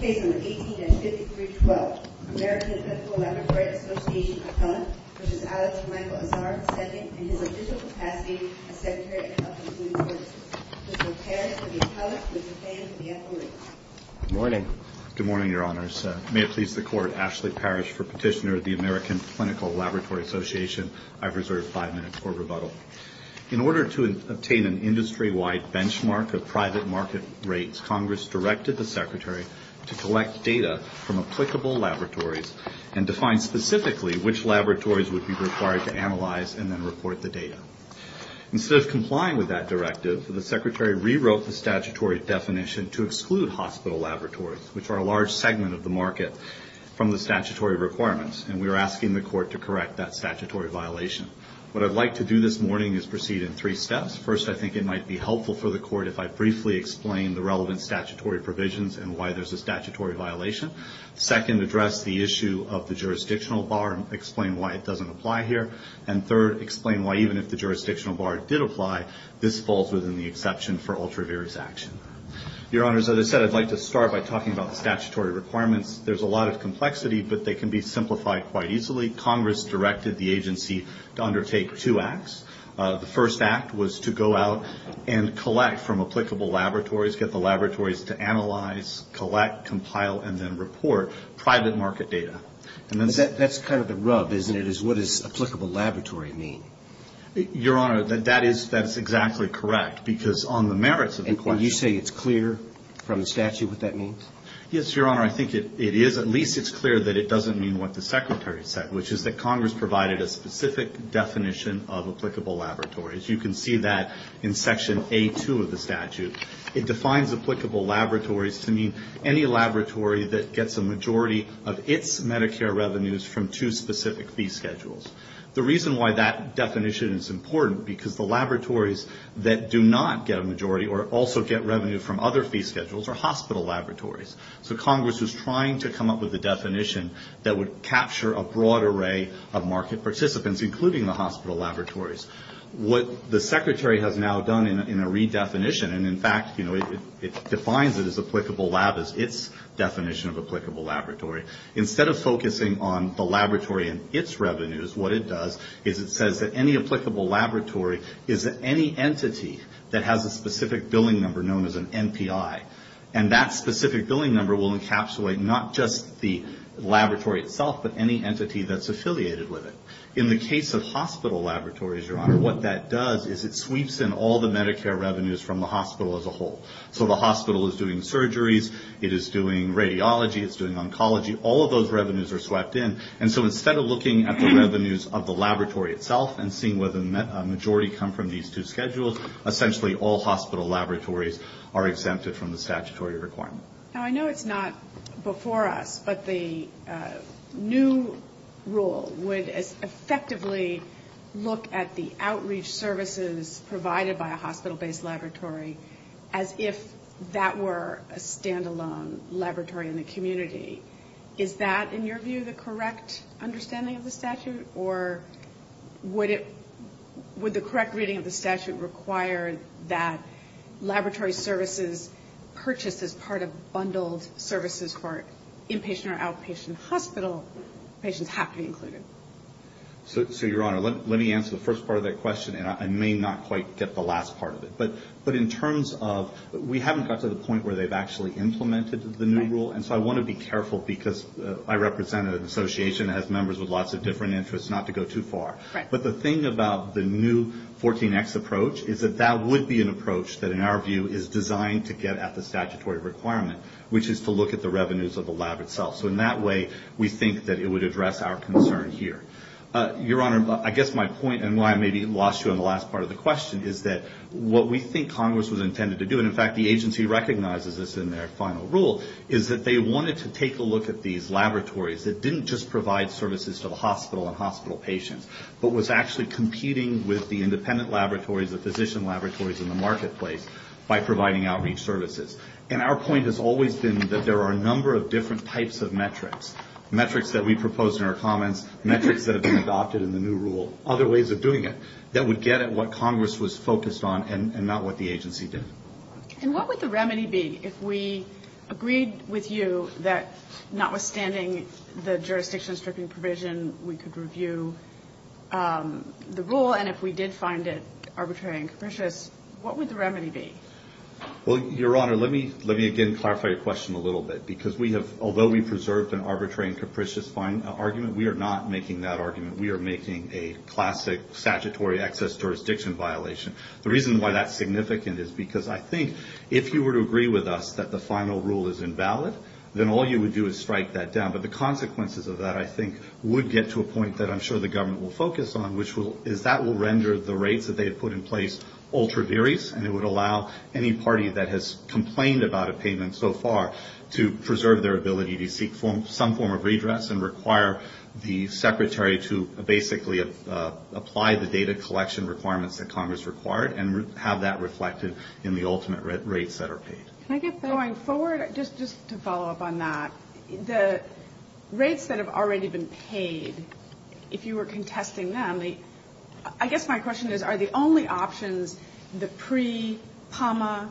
Case No. 18-5312, American Clinical Laboratory Association v. Alex Michael Azar, II, In His Official Capacity as Secretary of Health and Human Services Mr. Otero will be telephoned with the plan for the FOA. Good morning. Good morning, Your Honors. May it please the Court, Ashley Parrish for petitioner of the American Clinical Laboratory Association. I've reserved five minutes for rebuttal. In order to obtain an industry-wide benchmark of private market rates, Congress directed the Secretary to collect data from applicable laboratories and define specifically which laboratories would be required to analyze and then report the data. Instead of complying with that directive, the Secretary rewrote the statutory definition to exclude hospital laboratories, which are a large segment of the market, from the statutory requirements, and we are asking the Court to correct that statutory violation. What I'd like to do this morning is proceed in three steps. First, I think it might be helpful for the Court if I briefly explain the relevant statutory provisions and why there's a statutory violation. Second, address the issue of the jurisdictional bar and explain why it doesn't apply here. And third, explain why even if the jurisdictional bar did apply, this falls within the exception for ultraviarious action. Your Honors, as I said, I'd like to start by talking about the statutory requirements. There's a lot of complexity, but they can be simplified quite easily. Congress directed the agency to undertake two acts. The first act was to go out and collect from applicable laboratories, get the laboratories to analyze, collect, compile, and then report private market data. That's kind of the rub, isn't it, is what does applicable laboratory mean? Your Honor, that is exactly correct, because on the merits of the question... And you say it's clear from the statute what that means? Yes, Your Honor, I think it is. At least it's clear that it doesn't mean what the Secretary said, which is that Congress provided a specific definition of applicable laboratories. You can see that in Section A2 of the statute. It defines applicable laboratories to mean any laboratory that gets a majority of its Medicare revenues from two specific fee schedules. The reason why that definition is important, because the laboratories that do not get a majority or also get revenue from other fee schedules are hospital laboratories. So Congress was trying to come up with a definition that would capture a broad array of market participants, including the hospital laboratories. What the Secretary has now done in a redefinition, and in fact, it defines it as applicable lab as its definition of applicable laboratory. Instead of focusing on the laboratory and its revenues, what it does is it says that any applicable laboratory is any entity that has a specific billing number known as an NPI. And that specific billing number will encapsulate not just the laboratory itself, but any entity that's affiliated with it. In the case of hospital laboratories, Your Honor, what that does is it sweeps in all the Medicare revenues from the hospital as a whole. So the hospital is doing surgeries. It is doing radiology. It's doing oncology. All of those revenues are swept in. And so instead of looking at the revenues of the laboratory itself and seeing whether a majority come from these two schedules, essentially all hospital laboratories are exempted from the statutory requirement. Now, I know it's not before us, but the new rule would effectively look at the outreach services provided by a hospital-based laboratory as if that were a standalone laboratory in the community. Is that, in your view, the correct understanding of the statute? Or would it — would the correct reading of the statute require that laboratory services purchased as part of bundled services for inpatient or outpatient hospital patients have to be included? So, Your Honor, let me answer the first part of that question, and I may not quite get the last part of it. But in terms of — we haven't got to the point where they've actually implemented the new rule. And so I want to be careful, because I represent an association that has members with lots of different interests, not to go too far. But the thing about the new 14X approach is that that would be an approach that, in our view, is designed to get at the statutory requirement, which is to look at the revenues of the lab itself. So in that way, we think that it would address our concern here. Your Honor, I guess my point, and why I maybe lost you on the last part of the question, is that what we think Congress was intended to do — they wanted to take a look at these laboratories that didn't just provide services to the hospital and hospital patients, but was actually competing with the independent laboratories, the physician laboratories in the marketplace, by providing outreach services. And our point has always been that there are a number of different types of metrics — metrics that we proposed in our comments, metrics that have been adopted in the new rule, other ways of doing it — that would get at what Congress was focused on and not what the agency did. And what would the remedy be if we agreed with you that, notwithstanding the jurisdiction-stripping provision, we could review the rule, and if we did find it arbitrary and capricious, what would the remedy be? Well, Your Honor, let me — let me again clarify your question a little bit. Because we have — although we preserved an arbitrary and capricious argument, we are not making that argument. We are making a classic statutory excess jurisdiction violation. The reason why that's significant is because I think if you were to agree with us that the final rule is invalid, then all you would do is strike that down. But the consequences of that, I think, would get to a point that I'm sure the government will focus on, which is that will render the rates that they have put in place ultra-various, and it would allow any party that has complained about a payment so far to preserve their ability to seek some form of redress and require the Secretary to basically apply the data collection requirements that Congress required and have that reflected in the ultimate rates that are paid. Can I get that? Going forward, just to follow up on that, the rates that have already been paid, if you were contesting them, I guess my question is, are the only options the pre-PAMA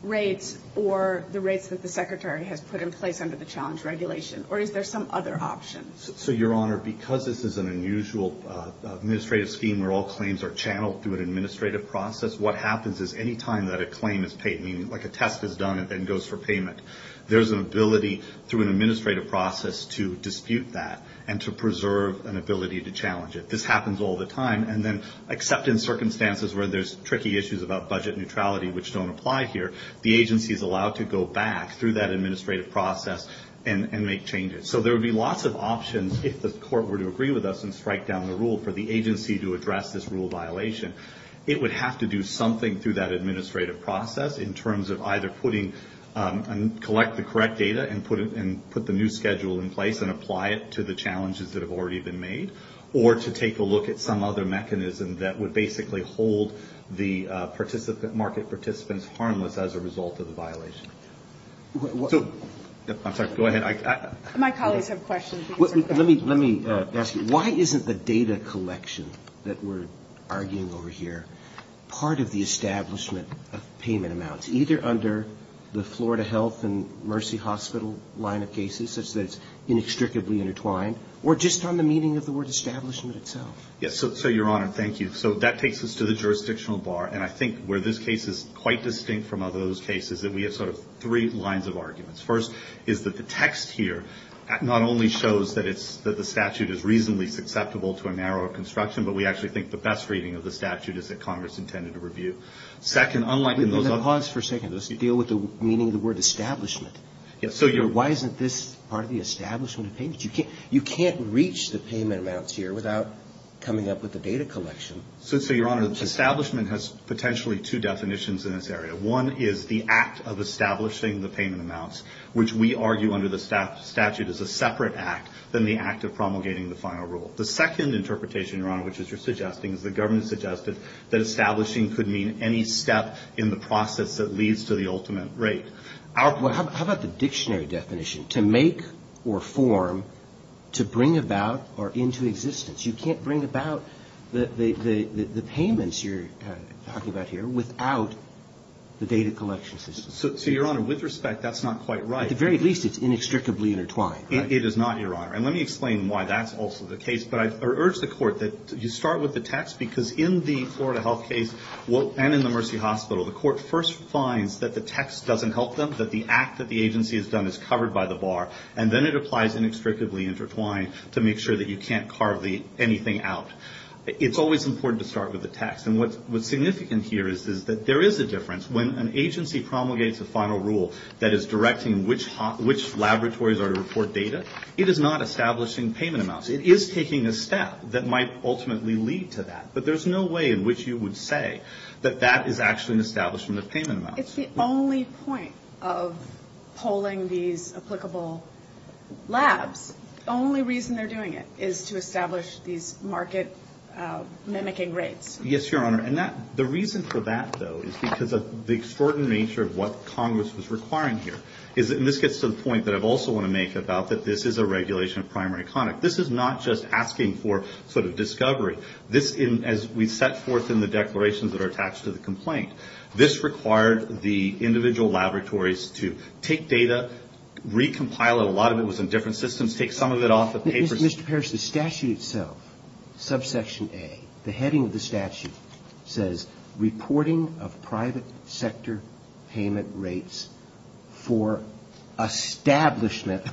rates or the rates that the Secretary has put in place under the challenge regulation, or is there some other option? So, Your Honor, because this is an unusual administrative scheme where all claims are channeled through an administrative process, what happens is any time that a claim is paid, meaning like a test is done and then goes for payment, there's an ability through an administrative process to dispute that and to preserve an ability to challenge it. This happens all the time. And then except in circumstances where there's tricky issues about budget neutrality which don't apply here, the agency is allowed to go back through that administrative process and make changes. So there would be lots of options if the court were to agree with us and strike down the rule for the agency to address this rule violation. It would have to do something through that administrative process in terms of either putting and collect the correct data and put the new schedule in place and apply it to the challenges that have already been made or to take a look at some other mechanism that would basically hold the market participants harmless as a result of the violation. I'm sorry, go ahead. My colleagues have questions. Let me ask you, why isn't the data collection that we're arguing over here part of the establishment of payment amounts, either under the Florida Health and Mercy Hospital line of cases such that it's inextricably intertwined, or just on the meaning of the word establishment itself? Yes. So, Your Honor, thank you. So that takes us to the jurisdictional bar. And I think where this case is quite distinct from other cases is that we have sort of three lines of arguments. First is that the text here not only shows that the statute is reasonably susceptible to a narrower construction, but we actually think the best reading of the statute is that Congress intended to review. Second, unlike in those other cases. Pause for a second. Let's deal with the meaning of the word establishment. Yes. Why isn't this part of the establishment of payment? You can't reach the payment amounts here without coming up with the data collection. So, Your Honor, establishment has potentially two definitions in this area. One is the act of establishing the payment amounts, which we argue under the statute is a separate act than the act of promulgating the final rule. The second interpretation, Your Honor, which is you're suggesting is the government suggested that establishing could mean any step in the process that leads to the ultimate rate. Well, how about the dictionary definition? To make or form, to bring about or into existence. You can't bring about the payments you're talking about here without the data collection system. So, Your Honor, with respect, that's not quite right. At the very least, it's inextricably intertwined. It is not, Your Honor. And let me explain why that's also the case. But I urge the Court that you start with the text because in the Florida health case and in the Mercy Hospital, the Court first finds that the text doesn't help them, that the act that the agency has done is covered by the bar, and then it applies inextricably intertwined to make sure that you can't carve anything out. It's always important to start with the text. And what's significant here is that there is a difference. When an agency promulgates a final rule that is directing which laboratories are to report data, it is not establishing payment amounts. It is taking a step that might ultimately lead to that. But there's no way in which you would say that that is actually an establishment of payment amounts. It's the only point of polling these applicable labs. The only reason they're doing it is to establish these market-mimicking rates. Yes, Your Honor. And the reason for that, though, is because of the extraordinary nature of what Congress was requiring here. And this gets to the point that I also want to make about that this is a regulation of primary conduct. This is not just asking for sort of discovery. This, as we set forth in the declarations that are attached to the complaint, this required the individual laboratories to take data, recompile it. A lot of it was in different systems. Take some of it off the papers. Mr. Parrish, the statute itself, subsection A, the heading of the statute, says reporting of private sector payment rates for establishment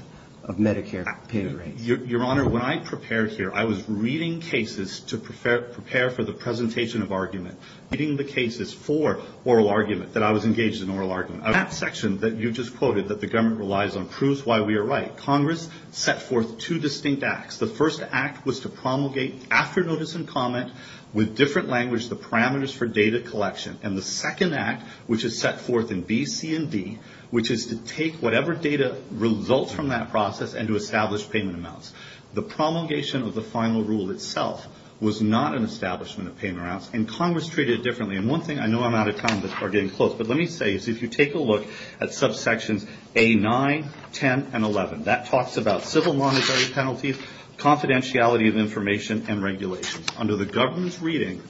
of Medicare payment rates. Your Honor, when I prepared here, I was reading cases to prepare for the presentation of argument, reading the cases for oral argument, that I was engaged in oral argument. That section that you just quoted that the government relies on proves why we are right. Congress set forth two distinct acts. The first act was to promulgate, after notice and comment, with different language, the parameters for data collection. And the second act, which is set forth in B, C, and D, which is to take whatever data results from that process and to establish payment amounts. The promulgation of the final rule itself was not an establishment of payment amounts, and Congress treated it differently. And one thing, I know I'm out of time, but we're getting close, but let me say is if you take a look at subsections A9, 10, and 11, that talks about civil monetary penalties, confidentiality of information, and regulations. Under the government's reading,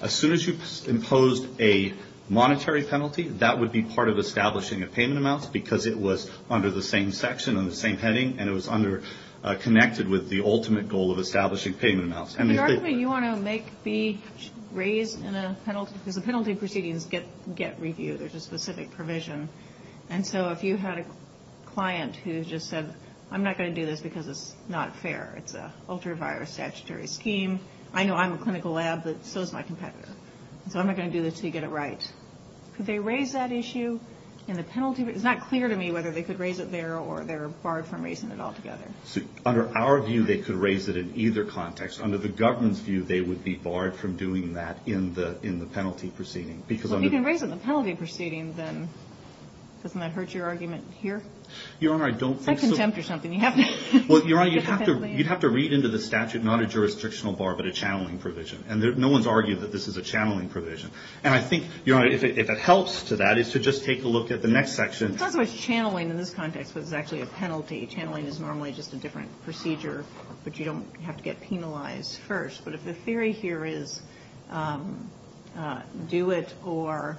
as soon as you imposed a monetary penalty, that would be part of establishing a payment amount because it was under the same section, under the same heading, and it was connected with the ultimate goal of establishing payment amounts. And the argument you want to make, B, raise in a penalty, because the penalty proceedings get reviewed. There's a specific provision. And so if you had a client who just said, I'm not going to do this because it's not fair. It's an ultra-virus statutory scheme. I know I'm a clinical lab, but so is my competitor. So I'm not going to do this until you get it right. Could they raise that issue in the penalty? It's not clear to me whether they could raise it there or they're barred from raising it altogether. Under our view, they could raise it in either context. Under the government's view, they would be barred from doing that in the penalty proceeding. Well, if you can raise it in the penalty proceeding, then doesn't that hurt your argument here? Your Honor, I don't think so. It's not contempt or something. You have to get the penalty. Well, Your Honor, you'd have to read into the statute not a jurisdictional bar, but a channeling provision. And no one's argued that this is a channeling provision. And I think, Your Honor, if it helps to that, is to just take a look at the next section. It's not so much channeling in this context, but it's actually a penalty. Channeling is normally just a different procedure, but you don't have to get penalized first. But if the theory here is do it or,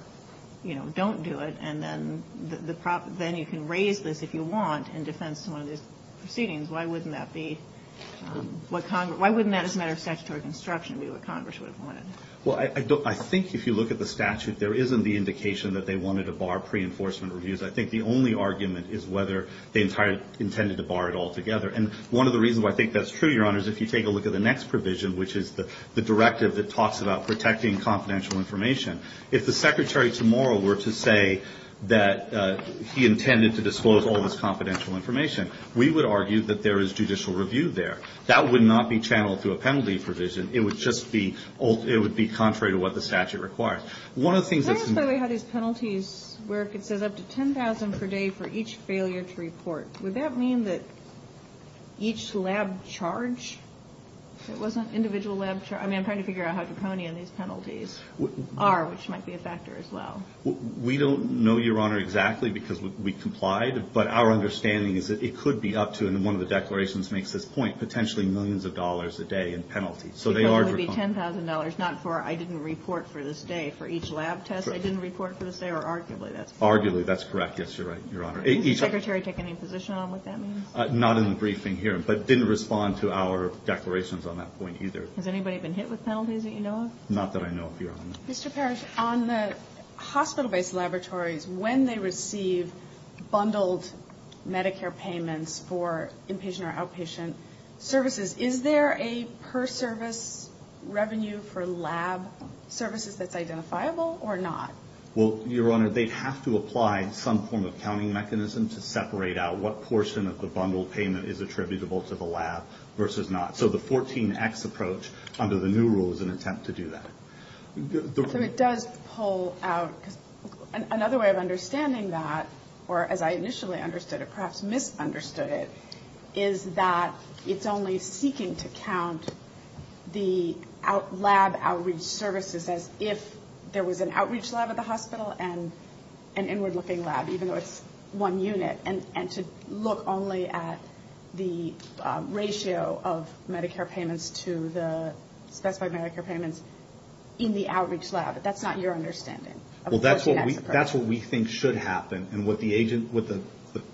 you know, don't do it, and then you can raise this if you want in defense of one of these proceedings, why wouldn't that be what Congress why wouldn't that as a matter of statutory construction be what Congress would have wanted? Well, I think if you look at the statute, there isn't the indication that they wanted to bar pre-enforcement reviews. I think the only argument is whether they intended to bar it altogether. And one of the reasons why I think that's true, Your Honor, is if you take a look at the next provision, which is the directive that talks about protecting confidential information, if the Secretary tomorrow were to say that he intended to disclose all this confidential information, we would argue that there is judicial review there. That would not be channeled through a penalty provision. It would just be it would be contrary to what the statute requires. One of the things that's Can you explain how these penalties work? It says up to $10,000 per day for each failure to report. Would that mean that each lab charge? It wasn't individual lab charge. I mean, I'm trying to figure out how draconian these penalties are, which might be a factor as well. We don't know, Your Honor, exactly because we complied. But our understanding is that it could be up to, and one of the declarations makes this point, potentially millions of dollars a day in penalties. Because it would be $10,000, not for I didn't report for this day, for each lab test I didn't report for this day, or arguably that's correct. Arguably that's correct. Yes, you're right, Your Honor. Did the Secretary take any position on what that means? Not in the briefing here, but didn't respond to our declarations on that point either. Has anybody been hit with penalties that you know of? Not that I know of, Your Honor. Mr. Parrish, on the hospital-based laboratories, when they receive bundled Medicare payments for inpatient or outpatient services, is there a per-service revenue for lab services that's identifiable or not? Well, Your Honor, they have to apply some form of counting mechanism to separate out what portion of the bundled payment is attributable to the lab versus not. So the 14X approach under the new rule is an attempt to do that. So it does pull out, because another way of understanding that, or as I initially understood it, perhaps misunderstood it, is that it's only seeking to count the lab outreach services as if there was an outreach lab at the hospital and an inward-looking lab, even though it's one unit, and to look only at the ratio of Medicare payments to the specified Medicare payments in the outreach lab. That's not your understanding of the 14X approach. Well, that's what we think should happen.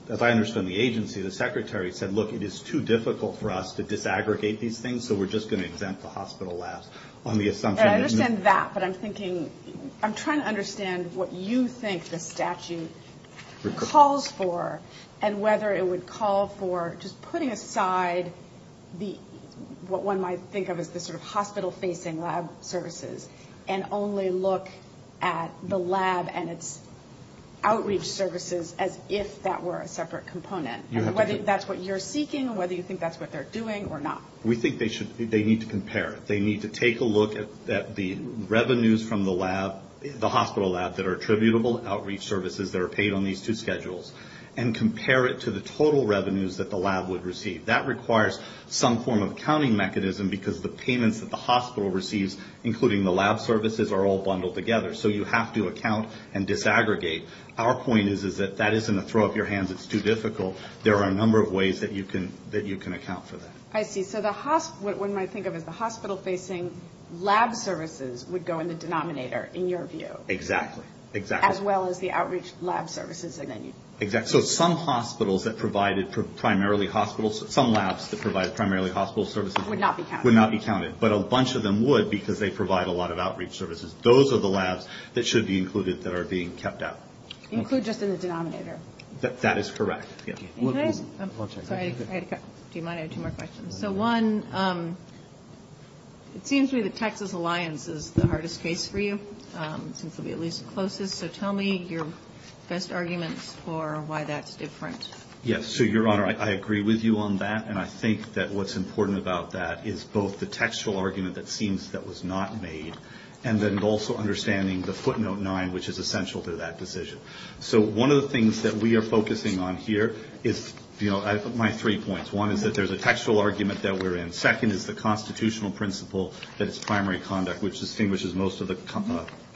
As I understand the agency, the secretary said, look, it is too difficult for us to disaggregate these things, so we're just going to exempt the hospital labs on the assumption that... I understand that, but I'm trying to understand what you think the statute calls for and whether it would call for just putting aside what one might think of as the sort of hospital-facing lab services and only look at the lab and its outreach services as if that were a separate component. And whether that's what you're seeking, whether you think that's what they're doing or not. We think they need to compare. They need to take a look at the revenues from the lab, the hospital lab, that are attributable outreach services that are paid on these two schedules and compare it to the total revenues that the lab would receive. That requires some form of accounting mechanism, because the payments that the hospital receives, including the lab services, are all bundled together. So you have to account and disaggregate. Our point is that that isn't a throw-up-your-hands-it's-too-difficult. There are a number of ways that you can account for that. I see. So what one might think of as the hospital-facing lab services would go in the denominator, in your view. Exactly. As well as the outreach lab services. So some hospitals that provided primarily hospitals, some labs that provided primarily hospital services. Would not be counted. Would not be counted. But a bunch of them would because they provide a lot of outreach services. Those are the labs that should be included that are being kept out. Include just in the denominator. That is correct. Sorry, I had to cut. Do you mind? I have two more questions. So one, it seems to me that Texas Alliance is the hardest case for you. It seems to be at least closest. So tell me your best arguments for why that's different. Yes. So, Your Honor, I agree with you on that. And I think that what's important about that is both the textual argument that seems that was not made. And then also understanding the footnote nine, which is essential to that decision. So one of the things that we are focusing on here is, you know, my three points. One is that there's a textual argument that we're in. Second is the constitutional principle that it's primary conduct, which distinguishes most of the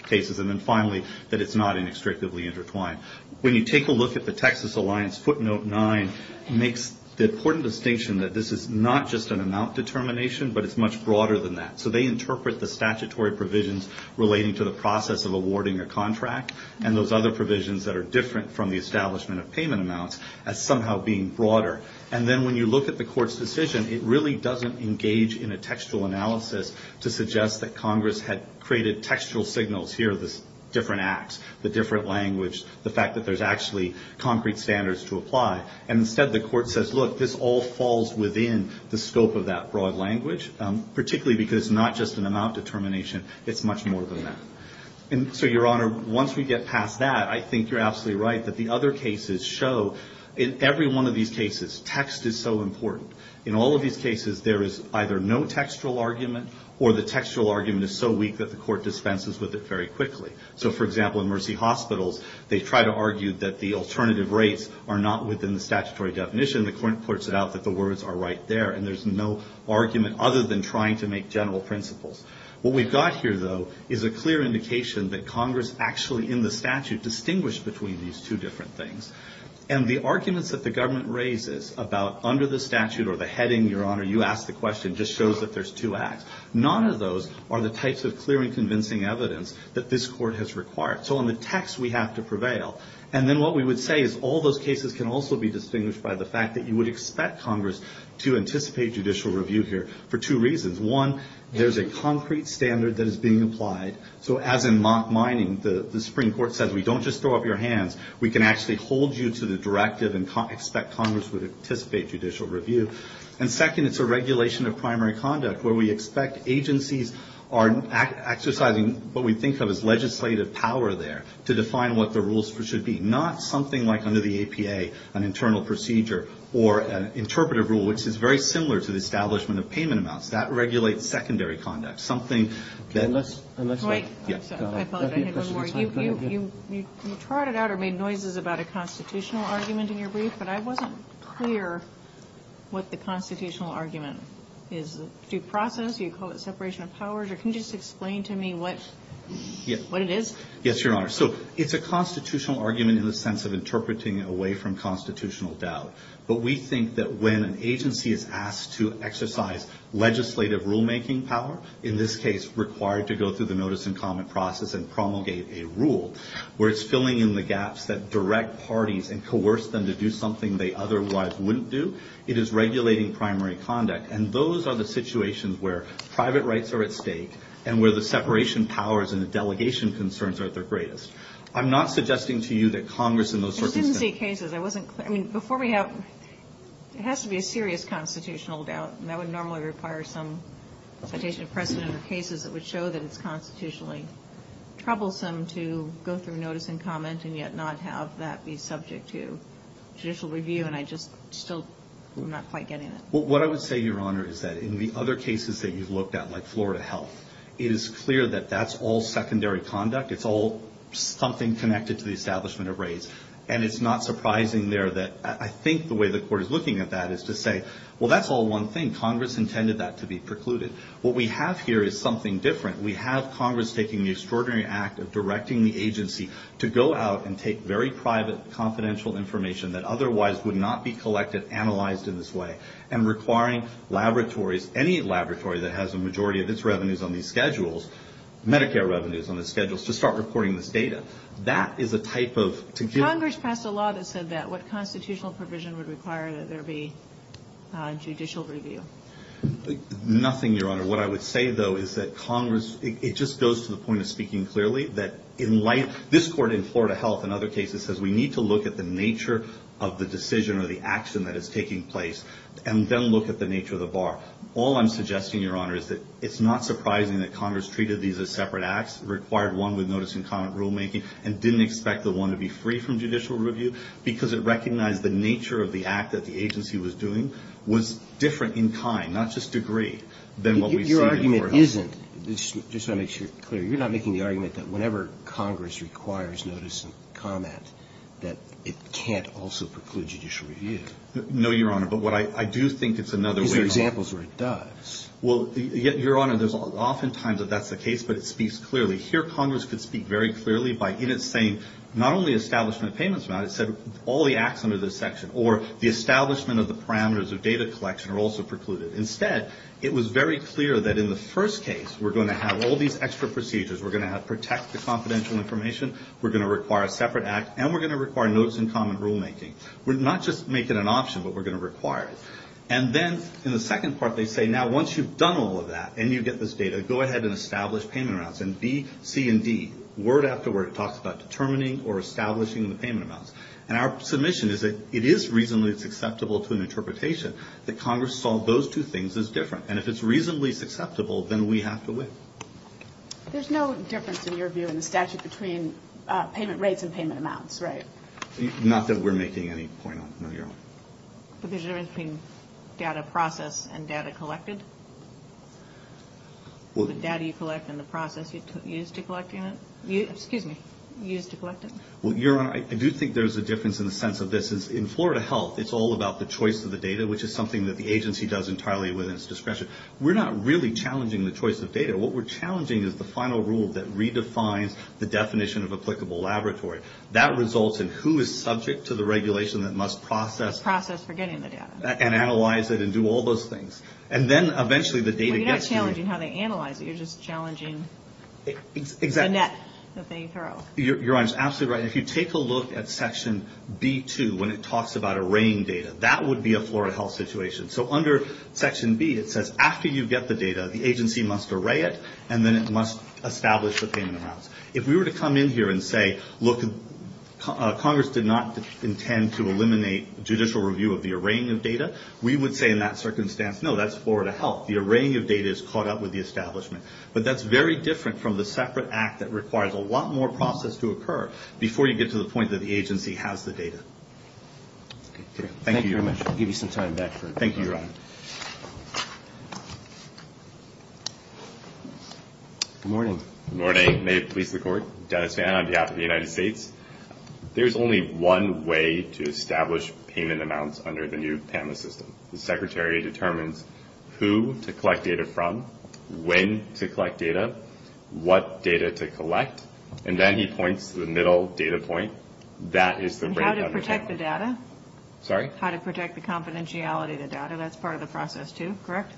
cases. And then finally, that it's not inextricably intertwined. When you take a look at the Texas Alliance footnote nine, it makes the important distinction that this is not just an amount determination, but it's much broader than that. So they interpret the statutory provisions relating to the process of awarding a contract and those other provisions that are different from the establishment of payment amounts as somehow being broader. And then when you look at the court's decision, it really doesn't engage in a textual analysis to suggest that Congress had created textual signals here, the different acts, the different language, the fact that there's actually concrete standards to apply. And instead, the court says, look, this all falls within the scope of that broad language, particularly because it's not just an amount determination. It's much more than that. And so, Your Honor, once we get past that, I think you're absolutely right that the other cases show, in every one of these cases, text is so important. In all of these cases, there is either no textual argument or the textual argument is so weak that the court dispenses with it very quickly. So, for example, in Mercy Hospitals, they try to argue that the alternative rates are not within the statutory definition. The court puts it out that the words are right there, and there's no argument other than trying to make general principles. What we've got here, though, is a clear indication that Congress actually, in the statute, distinguished between these two different things. And the arguments that the government raises about under the statute or the heading, Your Honor, you asked the question, just shows that there's two acts. None of those are the types of clear and convincing evidence that this court has required. So, on the text, we have to prevail. And then what we would say is all those cases can also be distinguished by the fact that you would expect Congress to anticipate judicial review here for two reasons. One, there's a concrete standard that is being applied. So, as in mining, the Supreme Court says, we don't just throw up your hands. We can actually hold you to the directive and expect Congress would anticipate judicial review. And, second, it's a regulation of primary conduct, where we expect agencies are exercising what we think of as legislative power there to define what the rules should be, not something like under the APA, an internal procedure or an interpretive rule, which is very similar to the establishment of payment amounts. That regulates secondary conduct. You trotted out or made noises about a constitutional argument in your brief, but I wasn't clear what the constitutional argument is. Is it due process? Do you call it separation of powers? Or can you just explain to me what it is? Yes, Your Honor. So, it's a constitutional argument in the sense of interpreting away from constitutional doubt. But we think that when an agency is asked to exercise legislative rulemaking power, in this case required to go through the notice and comment process and promulgate a rule, where it's filling in the gaps that direct parties and coerce them to do something they otherwise wouldn't do, it is regulating primary conduct. And those are the situations where private rights are at stake and where the separation of powers and the delegation concerns are at their greatest. I'm not suggesting to you that Congress in those circumstances. I didn't see cases. I wasn't clear. I mean, before we have, it has to be a serious constitutional doubt, and that would normally require some citation of precedent or cases that would show that it's constitutionally troublesome to go through notice and comment and yet not have that be subject to judicial review. And I just still am not quite getting it. Well, what I would say, Your Honor, is that in the other cases that you've looked at, like Florida Health, it is clear that that's all secondary conduct. It's all something connected to the establishment of rates. And it's not surprising there that I think the way the court is looking at that is to say, well, that's all one thing. Congress intended that to be precluded. What we have here is something different. We have Congress taking the extraordinary act of directing the agency to go out and take very private confidential information that otherwise would not be collected, analyzed in this way, and requiring laboratories, any laboratory that has a majority of its revenues on these schedules, Medicare revenues on the schedules, to start recording this data. That is a type of to give. Congress passed a law that said that. What constitutional provision would require that there be judicial review? Nothing, Your Honor. What I would say, though, is that Congress, it just goes to the point of speaking clearly, that in light, this court in Florida Health and other cases, says we need to look at the nature of the decision or the action that is taking place and then look at the nature of the bar. All I'm suggesting, Your Honor, is that it's not surprising that Congress treated these as separate acts, required one with notice and comment rulemaking, and didn't expect the one to be free from judicial review because it recognized the nature of the act that the agency was doing was different in kind, not just degree, than what we see in Florida Health. Your argument isn't, just to make sure you're clear, you're not making the argument that whenever Congress requires notice and comment, that it can't also preclude judicial review. No, Your Honor. But what I do think it's another way. Is there examples where it does? Well, Your Honor, there's oftentimes that that's the case, but it speaks clearly. Here, Congress could speak very clearly by in its saying, not only establishment of payments amount, it said all the acts under this section or the establishment of the parameters of data collection are also precluded. Instead, it was very clear that in the first case, we're going to have all these extra procedures. We're going to protect the confidential information. We're going to require a separate act, and we're going to require notice and comment rulemaking. We're not just making an option, but we're going to require it. And then in the second part, they say, now, once you've done all of that and you get this data, go ahead and establish payment amounts. And B, C, and D, word after word, talks about determining or establishing the payment amounts. And our submission is that it is reasonably acceptable to an interpretation that Congress saw those two things as different. And if it's reasonably acceptable, then we have to win. There's no difference, in your view, in the statute between payment rates and payment amounts, right? Not that we're making any point on it, no, Your Honor. But there's a difference between data process and data collected? The data you collect and the process you use to collect it? Well, Your Honor, I do think there's a difference in the sense of this. In Florida Health, it's all about the choice of the data, which is something that the agency does entirely within its discretion. We're not really challenging the choice of data. What we're challenging is the final rule that redefines the definition of applicable laboratory. That results in who is subject to the regulation that must process. Process for getting the data. And analyze it and do all those things. And then, eventually, the data gets to you. Well, you're not challenging how they analyze it. You're just challenging the net that they throw. Your Honor, you're absolutely right. If you take a look at Section B-2, when it talks about arraying data, that would be a Florida Health situation. So under Section B, it says, after you get the data, the agency must array it, and then it must establish the payment amounts. If we were to come in here and say, look, Congress did not intend to eliminate judicial review of the arraying of data, we would say in that circumstance, no, that's Florida Health. The arraying of data is caught up with the establishment. But that's very different from the separate act that requires a lot more process to occur before you get to the point that the agency has the data. Thank you very much. I'll give you some time back for it. Thank you, Your Honor. Good morning. Good morning. May it please the Court. Dennis Vann on behalf of the United States. There's only one way to establish payment amounts under the new PAMA system. The Secretary determines who to collect data from, when to collect data, what data to collect, and then he points to the middle data point. That is the rate of underpayment. How to protect the data? Sorry? How to protect the confidentiality of the data. That's part of the process too, correct?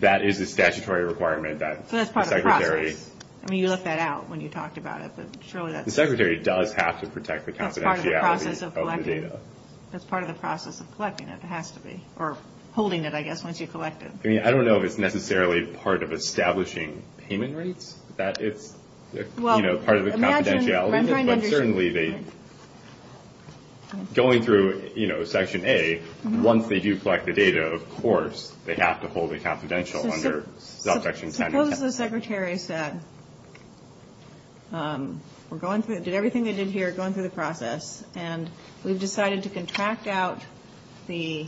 That is a statutory requirement that the Secretary. So that's part of the process. I mean, you left that out when you talked about it. The Secretary does have to protect the confidentiality of the data. That's part of the process of collecting it. It has to be. Or holding it, I guess, once you collect it. I mean, I don't know if it's necessarily part of establishing payment rates that it's part of the confidentiality. But certainly, going through Section A, once they do collect the data, of course, they have to hold it confidential under Section 10. Suppose the Secretary said, we're going through, did everything they did here, going through the process, and we've decided to contract out the,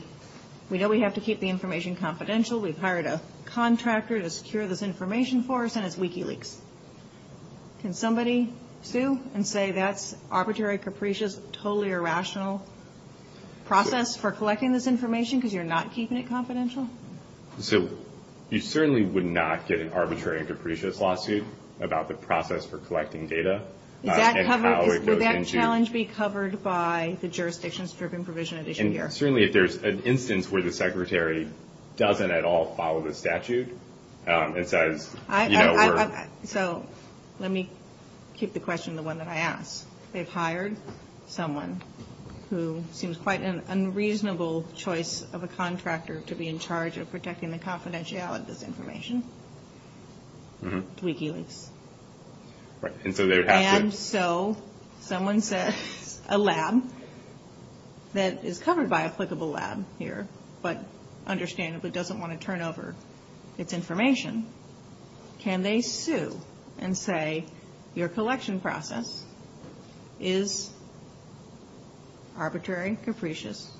we know we have to keep the information confidential, we've hired a contractor to secure this information for us, and it's WikiLeaks. Can somebody sue and say that's arbitrary, capricious, totally irrational process for collecting this information because you're not keeping it confidential? So you certainly would not get an arbitrary and capricious lawsuit about the process for collecting data. Is that covered? And how it goes into – Would that challenge be covered by the jurisdictions-driven provision addition here? And certainly, if there's an instance where the Secretary doesn't at all follow the statute and says, you know, we're – So let me keep the question the one that I asked. They've hired someone who seems quite an unreasonable choice of a contractor to be in charge of protecting the confidentiality of this information, WikiLeaks. Right, and so they would have to – And so someone says, a lab that is covered by applicable lab here, but understandably doesn't want to turn over its information, can they sue and say your collection process is arbitrary, capricious,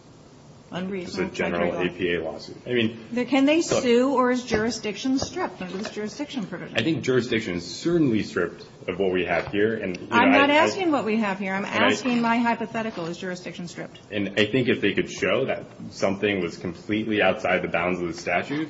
unreasonable? It's a general APA lawsuit. I mean – Can they sue or is jurisdiction stripped under this jurisdiction provision? I think jurisdiction is certainly stripped of what we have here, and – I'm not asking what we have here. I'm asking my hypothetical. Is jurisdiction stripped? And I think if they could show that something was completely outside the bounds of the statute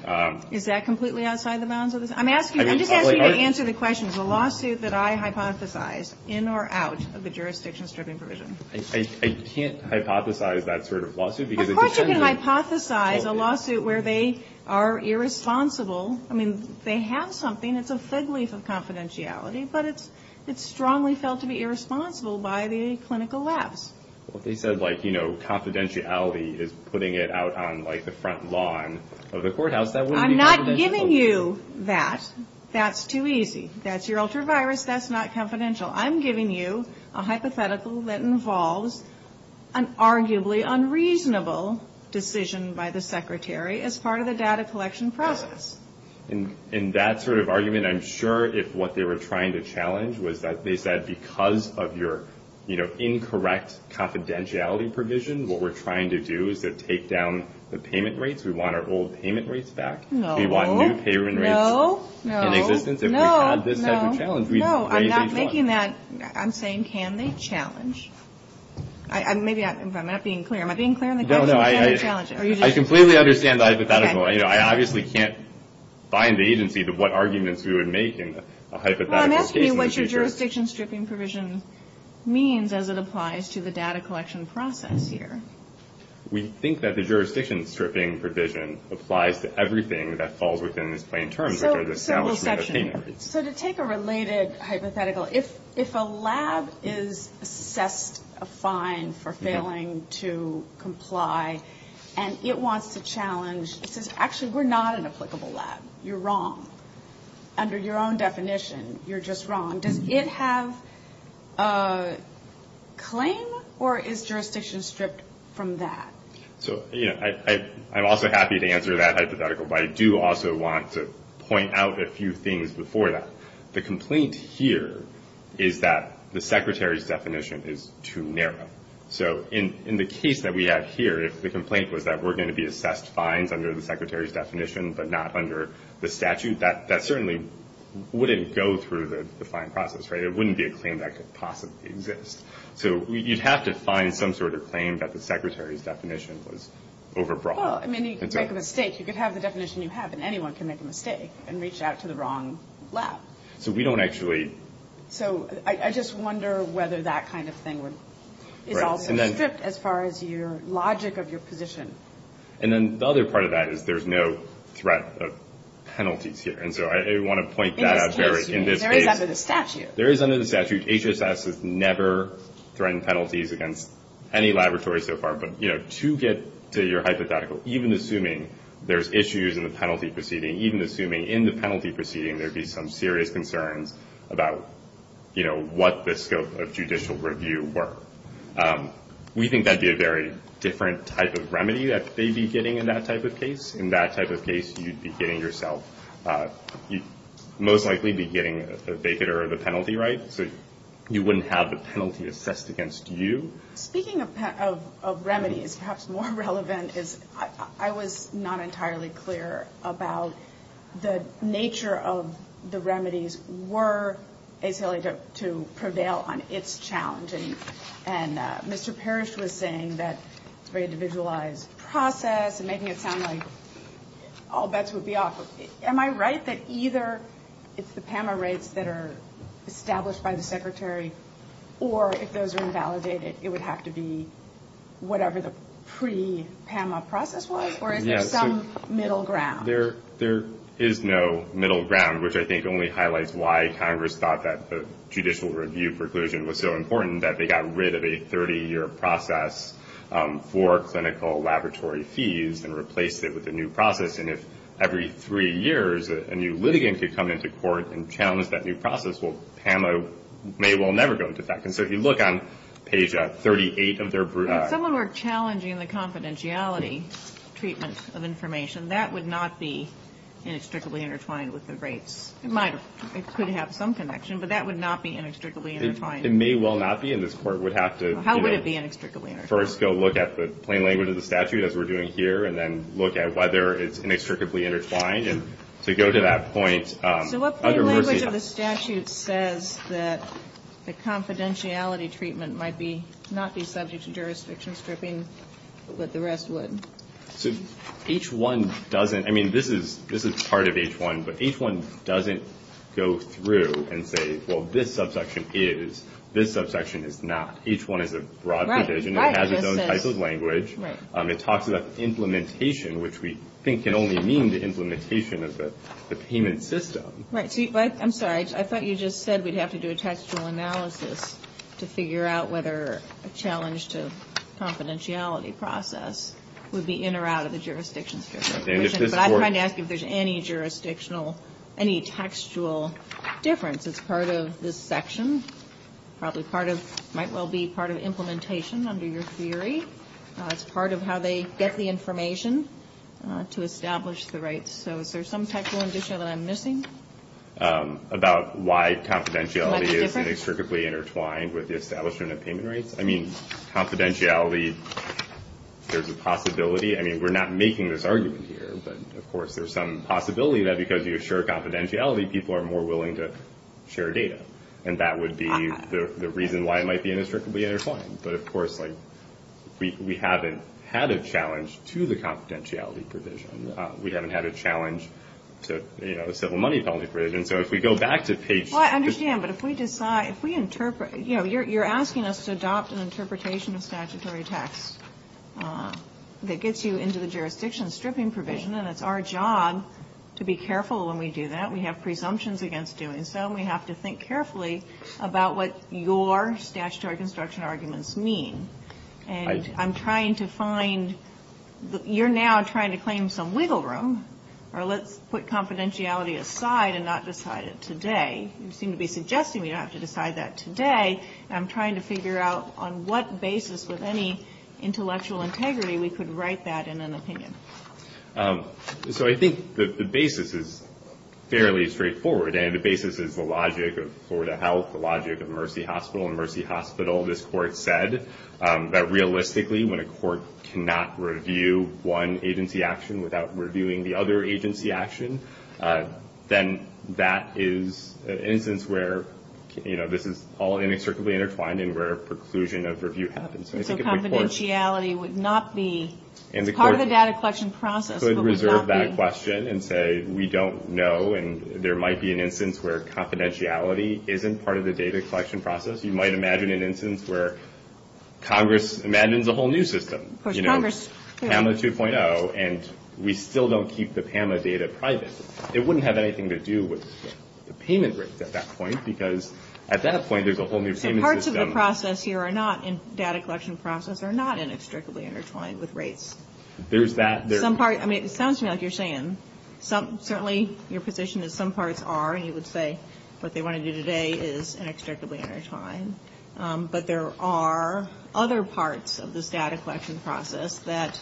– Is that completely outside the bounds of the – I'm asking – I'm just asking you to answer the question. Is the lawsuit that I hypothesized in or out of the jurisdiction stripping provision? I can't hypothesize that sort of lawsuit because it – Of course you can hypothesize a lawsuit where they are irresponsible. I mean, they have something. It's a fig leaf of confidentiality, but it's strongly felt to be irresponsible by the clinical labs. Well, if they said, like, you know, confidentiality is putting it out on, like, the front lawn of the courthouse, that wouldn't be confidential. I'm not giving you that. That's too easy. That's your ultravirus. That's not confidential. I'm giving you a hypothetical that involves an arguably unreasonable decision by the secretary as part of the data collection process. In that sort of argument, I'm sure if what they were trying to challenge was that they said, because of your, you know, incorrect confidentiality provision, what we're trying to do is to take down the payment rates. We want our old payment rates back. No. We want new payment rates in existence. No. No. No. No. No. No. I'm not making that. I'm saying, can they challenge? Maybe I'm not being clear. Am I being clear on the question? No, no. I completely understand the hypothetical. You know, I obviously can't find the agency of what arguments we would make in a hypothetical case. Well, I'm asking you what your jurisdiction stripping provision means as it applies to the data collection process here. We think that the jurisdiction stripping provision applies to everything that falls within its plain terms, which are the establishment of payment rates. So to take a related hypothetical, if a lab is assessed a fine for failing to comply, and it wants to challenge, it says, actually, we're not an applicable lab. You're wrong. Under your own definition, you're just wrong. Does it have a claim, or is jurisdiction stripped from that? So, you know, I'm also happy to answer that hypothetical, but I do also want to point out a few things before that. The complaint here is that the Secretary's definition is too narrow. So in the case that we have here, if the complaint was that we're going to be assessed fines under the Secretary's definition but not under the statute, that certainly wouldn't go through the fine process, right? It wouldn't be a claim that could possibly exist. So you'd have to find some sort of claim that the Secretary's definition was overbroad. Well, I mean, you could make a mistake. You could have the definition you have, and anyone can make a mistake and reach out to the wrong lab. So we don't actually. So I just wonder whether that kind of thing is also stripped as far as your logic of your position. And then the other part of that is there's no threat of penalties here. And so I want to point that out. In this case, there is under the statute. There is under the statute. HSS has never threatened penalties against any laboratory so far. But, you know, to get to your hypothetical, even assuming there's issues in the penalty proceeding, even assuming in the penalty proceeding there'd be some serious concerns about, you know, what the scope of judicial review were, we think that'd be a very different type of remedy that they'd be getting in that type of case. In that type of case, you'd be getting yourself. You'd most likely be getting a vacater of the penalty, right? So you wouldn't have the penalty assessed against you. Speaking of remedies, perhaps more relevant is I was not entirely clear about the nature of the remedies were basically to prevail on its challenge. And Mr. Parrish was saying that it's a very individualized process and making it sound like all bets would be off. Am I right that either it's the PAMA rates that are established by the Secretary, or if those are invalidated, it would have to be whatever the pre-PAMA process was? Or is there some middle ground? There is no middle ground, which I think only highlights why Congress thought that the judicial review preclusion was so important, that they got rid of a 30-year process for clinical laboratory fees and replaced it with a new process. And if every three years a new litigant could come into court and challenge that new process, well, PAMA may well never go into effect. And so if you look on page 38 of their- If someone were challenging the confidentiality treatment of information, that would not be inextricably intertwined with the rates. It could have some connection, but that would not be inextricably intertwined. It may well not be, and this Court would have to- How would it be inextricably intertwined? First go look at the plain language of the statute, as we're doing here, and then look at whether it's inextricably intertwined. And to go to that point- So what plain language of the statute says that the confidentiality treatment might not be subject to jurisdiction stripping, but the rest would? So H-1 doesn't- I mean, this is part of H-1, but H-1 doesn't go through and say, well, this subsection is, this subsection is not. H-1 is a broad provision. It has its own type of language. It talks about implementation, which we think can only mean the implementation of the payment system. Right. I'm sorry. I thought you just said we'd have to do a textual analysis to figure out whether a challenge to confidentiality process would be in or out of the jurisdiction stripping provision. But I'm trying to ask if there's any jurisdictional, any textual difference. It's part of this section, probably part of- might well be part of implementation under your theory. It's part of how they get the information to establish the rights. So is there some textual addition that I'm missing? About why confidentiality is inextricably intertwined with the establishment of payment rights? I mean, confidentiality, there's a possibility. I mean, we're not making this argument here, but of course there's some possibility that because you assure confidentiality, people are more willing to share data. And that would be the reason why it might be inextricably intertwined. But of course, like, we haven't had a challenge to the confidentiality provision. We haven't had a challenge to, you know, the civil money penalty provision. So if we go back to page- Well, I understand. But if we decide, if we interpret, you know, you're asking us to adopt an interpretation of statutory text that gets you into the jurisdiction stripping provision. And it's our job to be careful when we do that. We have presumptions against doing so. And we have to think carefully about what your statutory construction arguments mean. And I'm trying to find, you're now trying to claim some wiggle room, or let's put confidentiality aside and not decide it today. You seem to be suggesting we don't have to decide that today. I'm trying to figure out on what basis with any intellectual integrity we could write that in an opinion. So I think the basis is fairly straightforward. And the basis is the logic of Florida Health, the logic of Mercy Hospital. In Mercy Hospital, this court said that realistically, when a court cannot review one agency action without reviewing the other agency action, then that is an instance where, you know, this is all inextricably intertwined and where a preclusion of review happens. So confidentiality would not be part of the data collection process. And the court could reserve that question and say we don't know, and there might be an instance where confidentiality isn't part of the data collection process. You might imagine an instance where Congress abandons a whole new system, you know, PAMA 2.0, and we still don't keep the PAMA data private. It wouldn't have anything to do with the payment rate at that point, because at that point there's a whole new payment system. Parts of the process here are not in data collection process, are not inextricably intertwined with rates. There's that. I mean, it sounds to me like you're saying, certainly your position is some parts are, and you would say what they want to do today is inextricably intertwined. But there are other parts of this data collection process that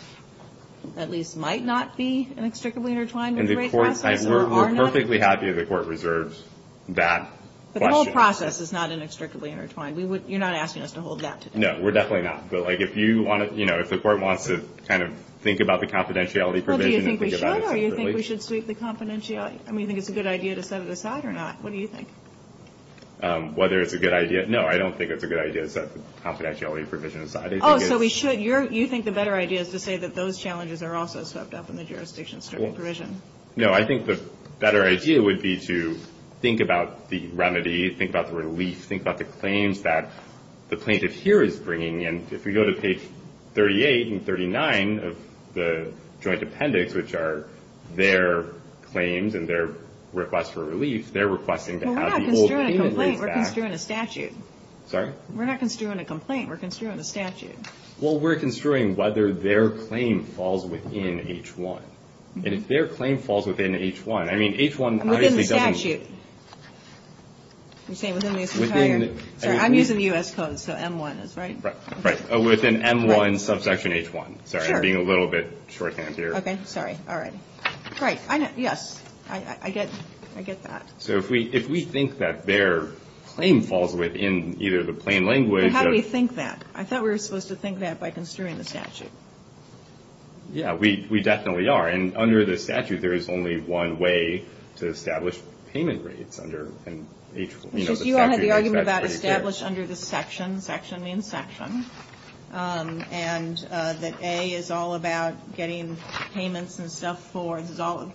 at least might not be inextricably intertwined. We're perfectly happy the court reserves that question. But the process is not inextricably intertwined. You're not asking us to hold that today. No, we're definitely not. But, like, if you want to, you know, if the court wants to kind of think about the confidentiality provision and think about it separately. Well, do you think we should, or do you think we should sweep the confidentiality? I mean, do you think it's a good idea to set it aside or not? What do you think? Whether it's a good idea. No, I don't think it's a good idea to set the confidentiality provision aside. Oh, so we should. You think the better idea is to say that those challenges are also swept up in the jurisdiction supervision. No, I think the better idea would be to think about the remedy, think about the relief, think about the claims that the plaintiff here is bringing. And if we go to page 38 and 39 of the joint appendix, which are their claims and their requests for relief, they're requesting to have the old payment. Well, we're not construing a complaint. We're construing a statute. Sorry? We're not construing a complaint. We're construing a statute. Well, we're construing whether their claim falls within H1. And if their claim falls within H1, I mean, H1 obviously doesn't. Within the statute. You're saying within the entire. Sorry, I'm using the U.S. code, so M1 is, right? Right. Within M1 subsection H1. Sorry, I'm being a little bit shorthand here. Okay. Sorry. All right. Great. Yes. I get that. So if we think that their claim falls within either the plain language. But how do we think that? I thought we were supposed to think that by construing the statute. Yeah, we definitely are. And under the statute, there is only one way to establish payment rates under an H1. You all had the argument about established under the section. Section means section. And that A is all about getting payments and stuff for. This is all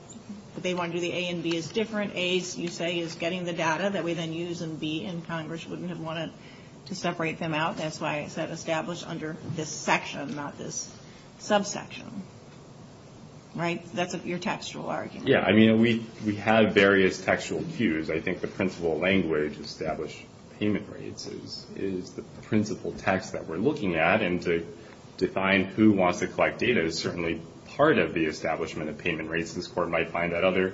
that they want to do. The A and B is different. A, you say, is getting the data that we then use. And B in Congress wouldn't have wanted to separate them out. That's why I said established under this section, not this subsection. Right? That's your textual argument. Yeah. I mean, we have various textual cues. I think the principal language, established payment rates, is the principal text that we're looking at. And to define who wants to collect data is certainly part of the establishment of payment rates. This Court might find that other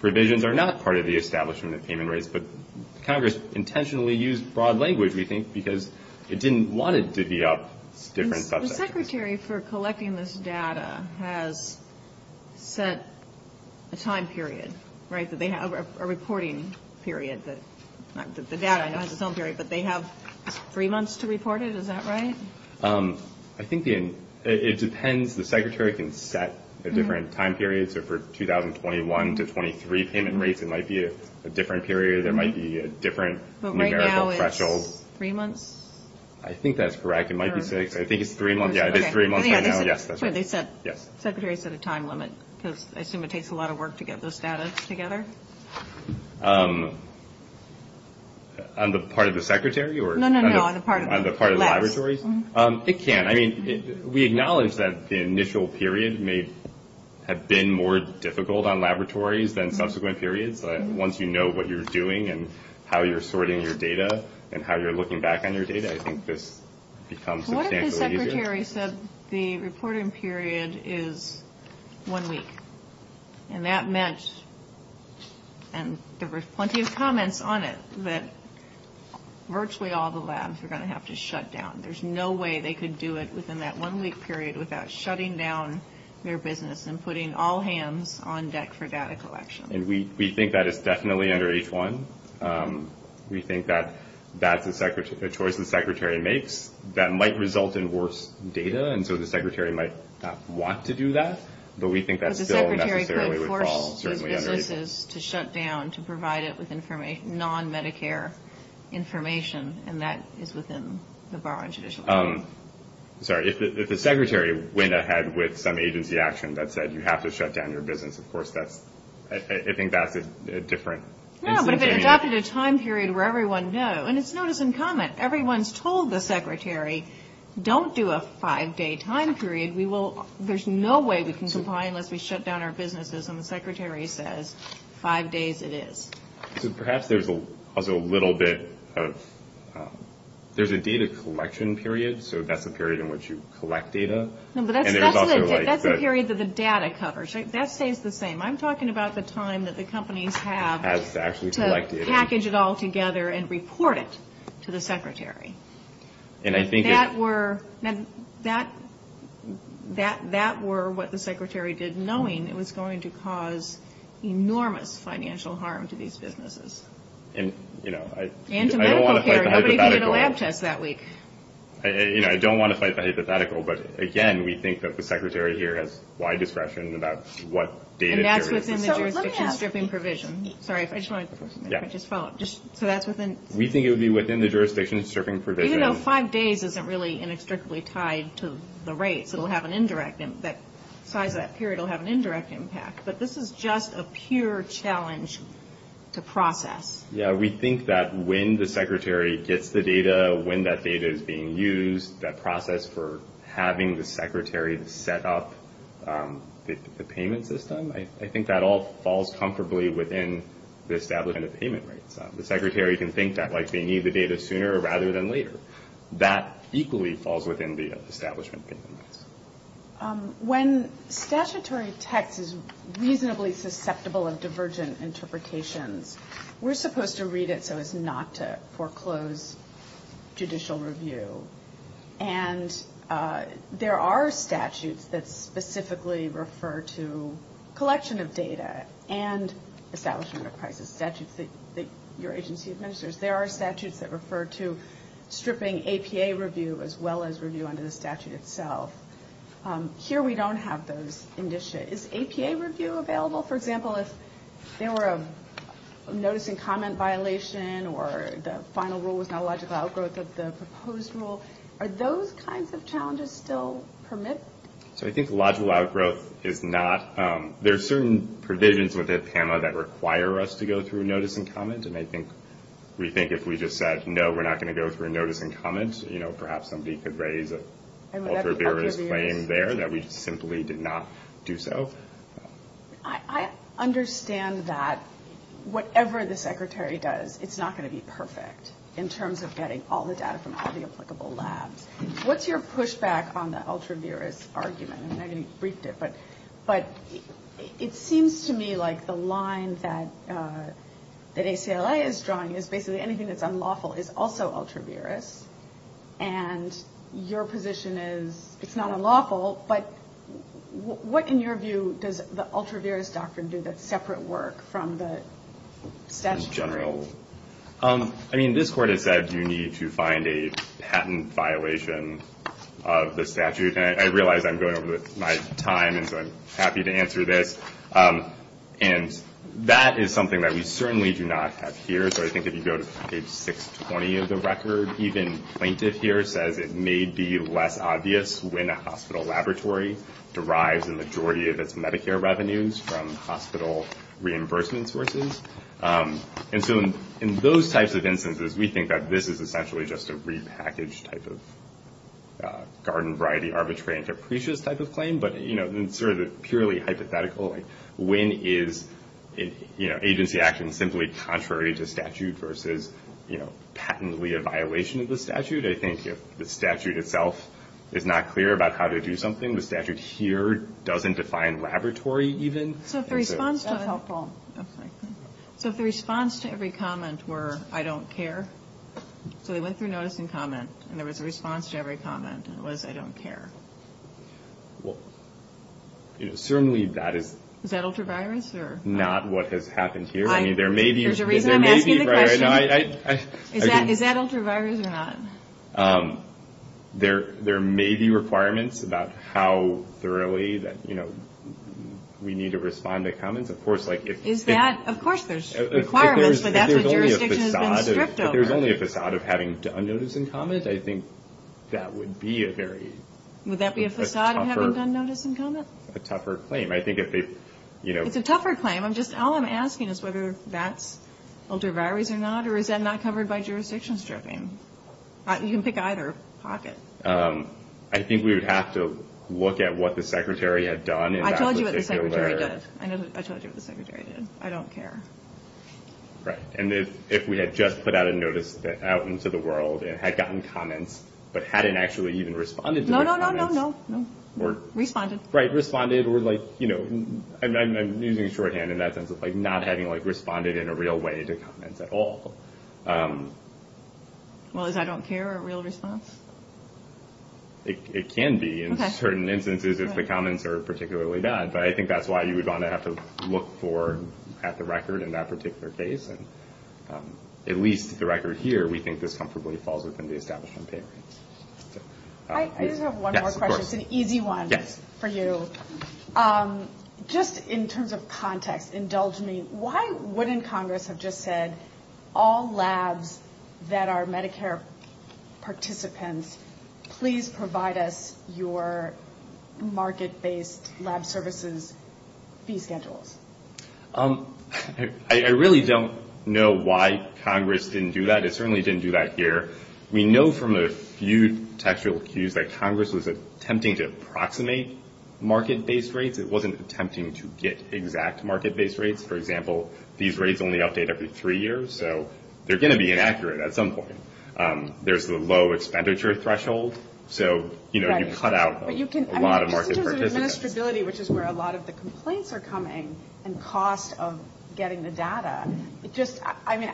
provisions are not part of the establishment of payment rates. But Congress intentionally used broad language, we think, because it didn't want it to be up different subsections. The secretary for collecting this data has set a time period, right, that they have a reporting period that the data has its own period, but they have three months to report it. Is that right? I think it depends. The secretary can set a different time period. So for 2021 to 2023 payment rates it might be a different period. There might be a different numerical threshold. But right now it's three months? I think that's correct. It might be six. I think it's three months. Yeah, it is three months right now. Yes, that's right. They said the secretary set a time limit because I assume it takes a lot of work to get those data together. On the part of the secretary? No, no, no, on the part of the laboratories. It can. I mean, we acknowledge that the initial period may have been more difficult on laboratories than subsequent periods. Once you know what you're doing and how you're sorting your data and how you're looking back on your data, I think this becomes substantially easier. What if the secretary said the reporting period is one week? And that meant, and there were plenty of comments on it, that virtually all the labs are going to have to shut down. There's no way they could do it within that one-week period without shutting down their business and putting all hands on deck for data collection. And we think that is definitely under H1. We think that that's a choice the secretary makes. That might result in worse data, and so the secretary might not want to do that, but we think that still necessarily would fall certainly under H1. But the secretary could force his businesses to shut down to provide it with non-Medicare information, and that is within the bar on judicial review. Sorry, if the secretary went ahead with some agency action that said you have to shut down your business, of course that's, I think that's a different instance. No, but if it adopted a time period where everyone knew, and it's notice and comment. Everyone's told the secretary, don't do a five-day time period. We will, there's no way we can comply unless we shut down our businesses, and the secretary says five days it is. So perhaps there's also a little bit of, there's a data collection period, so that's a period in which you collect data. No, but that's a period that the data covers. That stays the same. I'm talking about the time that the companies have to package it all together and report it to the secretary. That were what the secretary did knowing it was going to cause enormous financial harm to these businesses. And to medical care. I don't want to fight the hypothetical, but, again, we think that the secretary here has wide discretion about what data. And that's within the jurisdiction stripping provision. Sorry, I just wanted to follow up. So that's within. We think it would be within the jurisdiction stripping provision. Even though five days isn't really inextricably tied to the rates, it will have an indirect, that size of that period will have an indirect impact. But this is just a pure challenge to process. Yeah, we think that when the secretary gets the data, when that data is being used, that process for having the secretary set up the payment system, I think that all falls comfortably within the establishment of payment rates. The secretary can think that, like, they need the data sooner rather than later. That equally falls within the establishment of payment rates. When statutory text is reasonably susceptible of divergent interpretations, we're supposed to read it so as not to foreclose judicial review. And there are statutes that specifically refer to collection of data and establishment of crisis statutes that your agency administers. There are statutes that refer to stripping APA review as well as review under the statute itself. Here we don't have those. Is APA review available? For example, if there were a notice and comment violation or the final rule was not a logical outgrowth of the proposed rule, are those kinds of challenges still permitted? So I think logical outgrowth is not. There are certain provisions within APAMA that require us to go through notice and comment. And I think we think if we just said, no, we're not going to go through notice and comment, you know, perhaps somebody could raise an ultra-various claim there that we simply did not do so. I understand that whatever the Secretary does, it's not going to be perfect in terms of getting all the data from all the applicable labs. What's your pushback on the ultra-various argument? I know you briefed it, but it seems to me like the line that ACLA is drawing is basically anything that's unlawful is also ultra-various. And your position is it's not unlawful, but what, in your view, does the ultra-various doctrine do that's separate work from the statute? In general, I mean, this Court has said you need to find a patent violation of the statute. And I realize I'm going over my time, and so I'm happy to answer this. And that is something that we certainly do not have here. So I think if you go to page 620 of the record, even plaintiff here says it may be less obvious when a hospital laboratory derives a majority of its Medicare revenues from hospital reimbursement sources. And so in those types of instances, we think that this is essentially just a repackaged type of garden-variety, arbitrary and capricious type of claim. But, you know, it's sort of purely hypothetical. When is agency action simply contrary to statute versus, you know, patently a violation of the statute? I think if the statute itself is not clear about how to do something, the statute here doesn't define laboratory even. So if the response to every comment were, I don't care, so they went through notice and comment, and there was a response to every comment, and it was, I don't care. Well, certainly that is not what has happened here. There's a reason I'm asking the question. Is that ultra-virus or not? There may be requirements about how thoroughly we need to respond to comments. Of course there's requirements, but that's what jurisdiction has been stripped over. There's only a façade of having done notice and comment. I think that would be a very tougher claim. Would that be a façade of having done notice and comment? It's a tougher claim. All I'm asking is whether that's ultra-virus or not, or is that not covered by jurisdiction stripping? You can pick either pocket. I think we would have to look at what the Secretary had done in that particular letter. I told you what the Secretary did. I told you what the Secretary did. I don't care. Right. If we had just put out a notice out into the world and had gotten comments, but hadn't actually even responded to the comments. No, no, no, no, no. Responded. Right. Responded. I'm using shorthand in that sense of not having responded in a real way to comments at all. Well, is I don't care a real response? It can be in certain instances if the comments are particularly bad, but I think that's why you would want to have to look at the record in that particular case. At least the record here, we think this comfortably falls within the establishment. I just have one more question. It's an easy one for you. Just in terms of context, indulge me. Why wouldn't Congress have just said all labs that are Medicare participants, please provide us your market-based lab services fee schedules? I really don't know why Congress didn't do that. It certainly didn't do that here. We know from a few textual cues that Congress was attempting to approximate market-based rates. It wasn't attempting to get exact market-based rates. For example, these rates only update every three years, so they're going to be inaccurate at some point. There's the low expenditure threshold, so you cut out a lot of market participants. Just in terms of administrability, which is where a lot of the complaints are coming, and cost of getting the data, it just, I mean,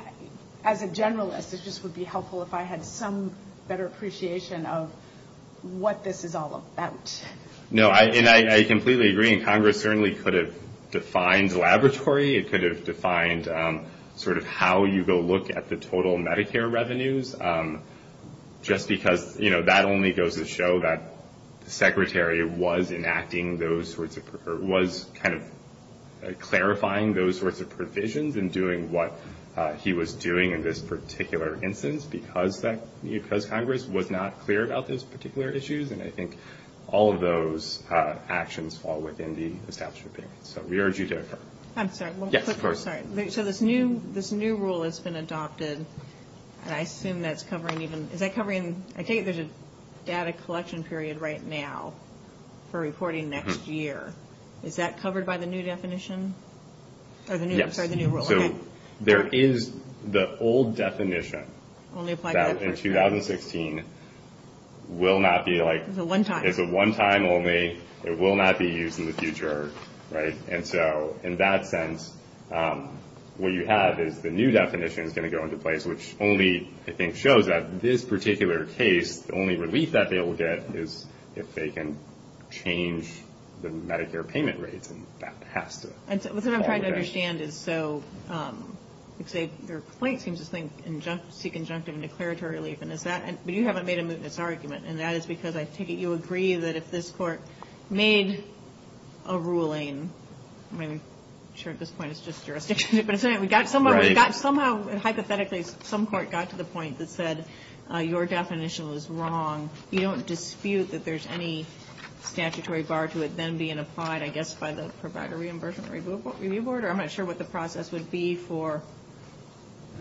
as a generalist, it just would be helpful if I had some better appreciation of what this is all about. No, and I completely agree. Congress certainly could have defined laboratory. It could have defined sort of how you go look at the total Medicare revenues, just because that only goes to show that the Secretary was enacting those sorts of, was kind of clarifying those sorts of provisions and doing what he was doing in this particular instance, because Congress was not clear about those particular issues, and I think all of those actions fall within the establishment period. So we urge you to occur. I'm sorry. Yes, of course. Sorry. So this new rule has been adopted, and I assume that's covering even, is that covering, I take it there's a data collection period right now for reporting next year. Is that covered by the new definition? Yes. Sorry, the new rule, okay. So there is the old definition that in 2016 will not be like, It's a one-time. It will not be used in the future, right? And so in that sense, what you have is the new definition is going to go into place, which only, I think, shows that this particular case, the only relief that they will get is if they can change the Medicare payment rates, and that has to fall within. What I'm trying to understand is, so your point seems to seek injunctive and declaratory relief, but you haven't made a mootness argument, and that is because I take it you agree that if this court made a ruling, I mean, I'm sure at this point it's just jurisdiction, but somehow hypothetically some court got to the point that said your definition was wrong. You don't dispute that there's any statutory bar to it then being applied, I guess, by the provider reimbursement review board, or I'm not sure what the process would be for.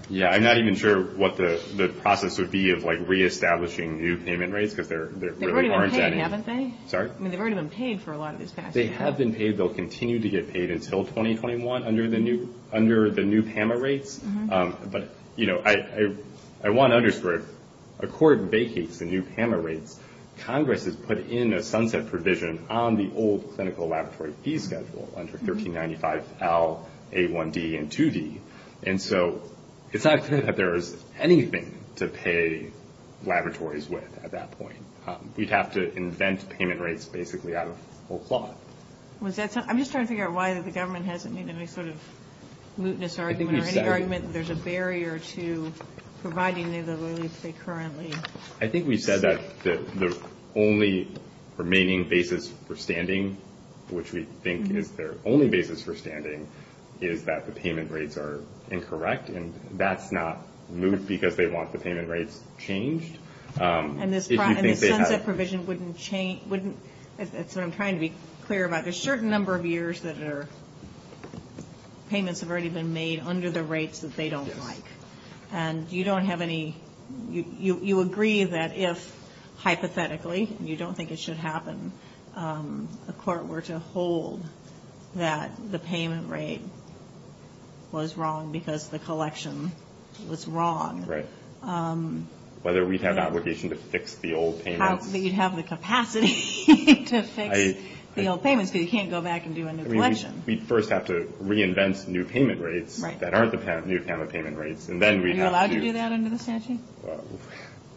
Yeah, I'm not even sure what the process would be of, like, reestablishing new payment rates, because there really aren't any. They've already been paid, haven't they? Sorry? I mean, they've already been paid for a lot of this past year. They have been paid. They'll continue to get paid until 2021 under the new PAMA rates. But, you know, I want to underscore, a court vacates the new PAMA rates. Congress has put in a sunset provision on the old clinical laboratory fee schedule under 1395L, A1D, and 2D. And so it's not clear that there is anything to pay laboratories with at that point. We'd have to invent payment rates basically out of whole cloth. I'm just trying to figure out why the government hasn't made any sort of mootness argument or any argument that there's a barrier to providing the relief they currently seek. I think we said that the only remaining basis for standing, which we think is their only basis for standing, is that the payment rates are incorrect. And that's not moot because they want the payment rates changed. And this sunset provision wouldn't change. That's what I'm trying to be clear about. There's a certain number of years that payments have already been made under the rates that they don't like. And you don't have any, you agree that if, hypothetically, you don't think it should happen, the court were to hold that the payment rate was wrong because the collection was wrong. Right. Whether we'd have the obligation to fix the old payments. You'd have the capacity to fix the old payments because you can't go back and do a new collection. We'd first have to reinvent new payment rates that aren't the new payment rates. And then we'd have to. Are you allowed to do that under the statute?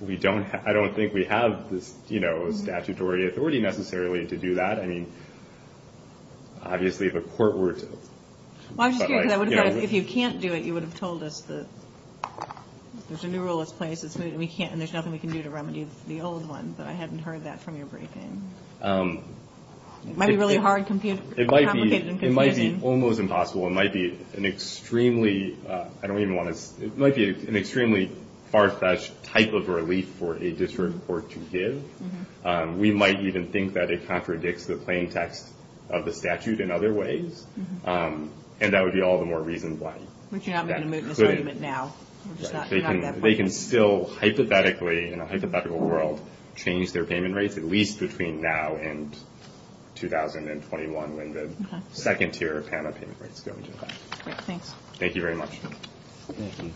I don't think we have this statutory authority necessarily to do that. I mean, obviously the court were to. Well, I'm just curious. If you can't do it, you would have told us that there's a new rule that's in place, and there's nothing we can do to remedy the old one. But I hadn't heard that from your briefing. It might be really hard, complicated. It might be almost impossible. It might be an extremely, I don't even want to. It might be an extremely far-fetched type of relief for a district court to give. We might even think that it contradicts the plain text of the statute in other ways, and that would be all the more reason why. But you're not making a mootness argument now. They can still hypothetically, in a hypothetical world, change their payment rates, at least between now and 2021, when the second tier of PAMA payment rates go into effect. Great, thanks. Thank you very much. Thank you.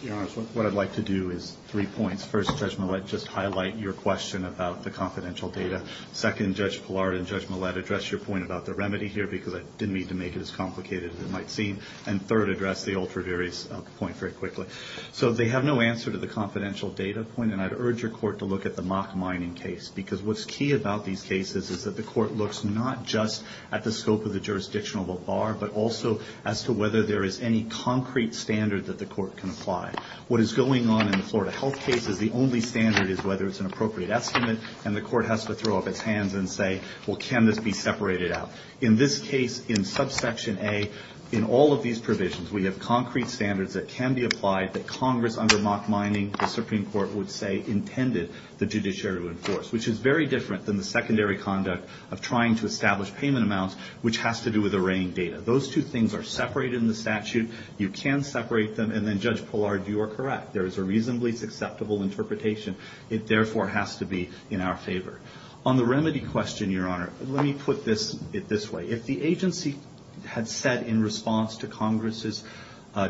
Your Honors, what I'd like to do is three points. First, Judge Millett, just highlight your question about the confidential data. Second, Judge Pillard and Judge Millett, address your point about the remedy here, because I didn't mean to make it as complicated as it might seem. And third, address the ultra-various point very quickly. So they have no answer to the confidential data point, and I'd urge your court to look at the mock mining case, because what's key about these cases is that the court looks not just at the scope of the jurisdictional bar, but also as to whether there is any concrete standard that the court can apply. What is going on in the Florida Health case is the only standard is whether it's an appropriate estimate, and the court has to throw up its hands and say, well, can this be separated out? In this case, in subsection A, in all of these provisions, we have concrete standards that can be applied that Congress, under mock mining, the Supreme Court would say intended the judiciary to enforce, which is very different than the secondary conduct of trying to establish payment amounts, which has to do with arraying data. Those two things are separated in the statute. You can separate them, and then, Judge Pillard, you are correct. There is a reasonably acceptable interpretation. It, therefore, has to be in our favor. On the remedy question, Your Honor, let me put it this way. If the agency had said in response to Congress's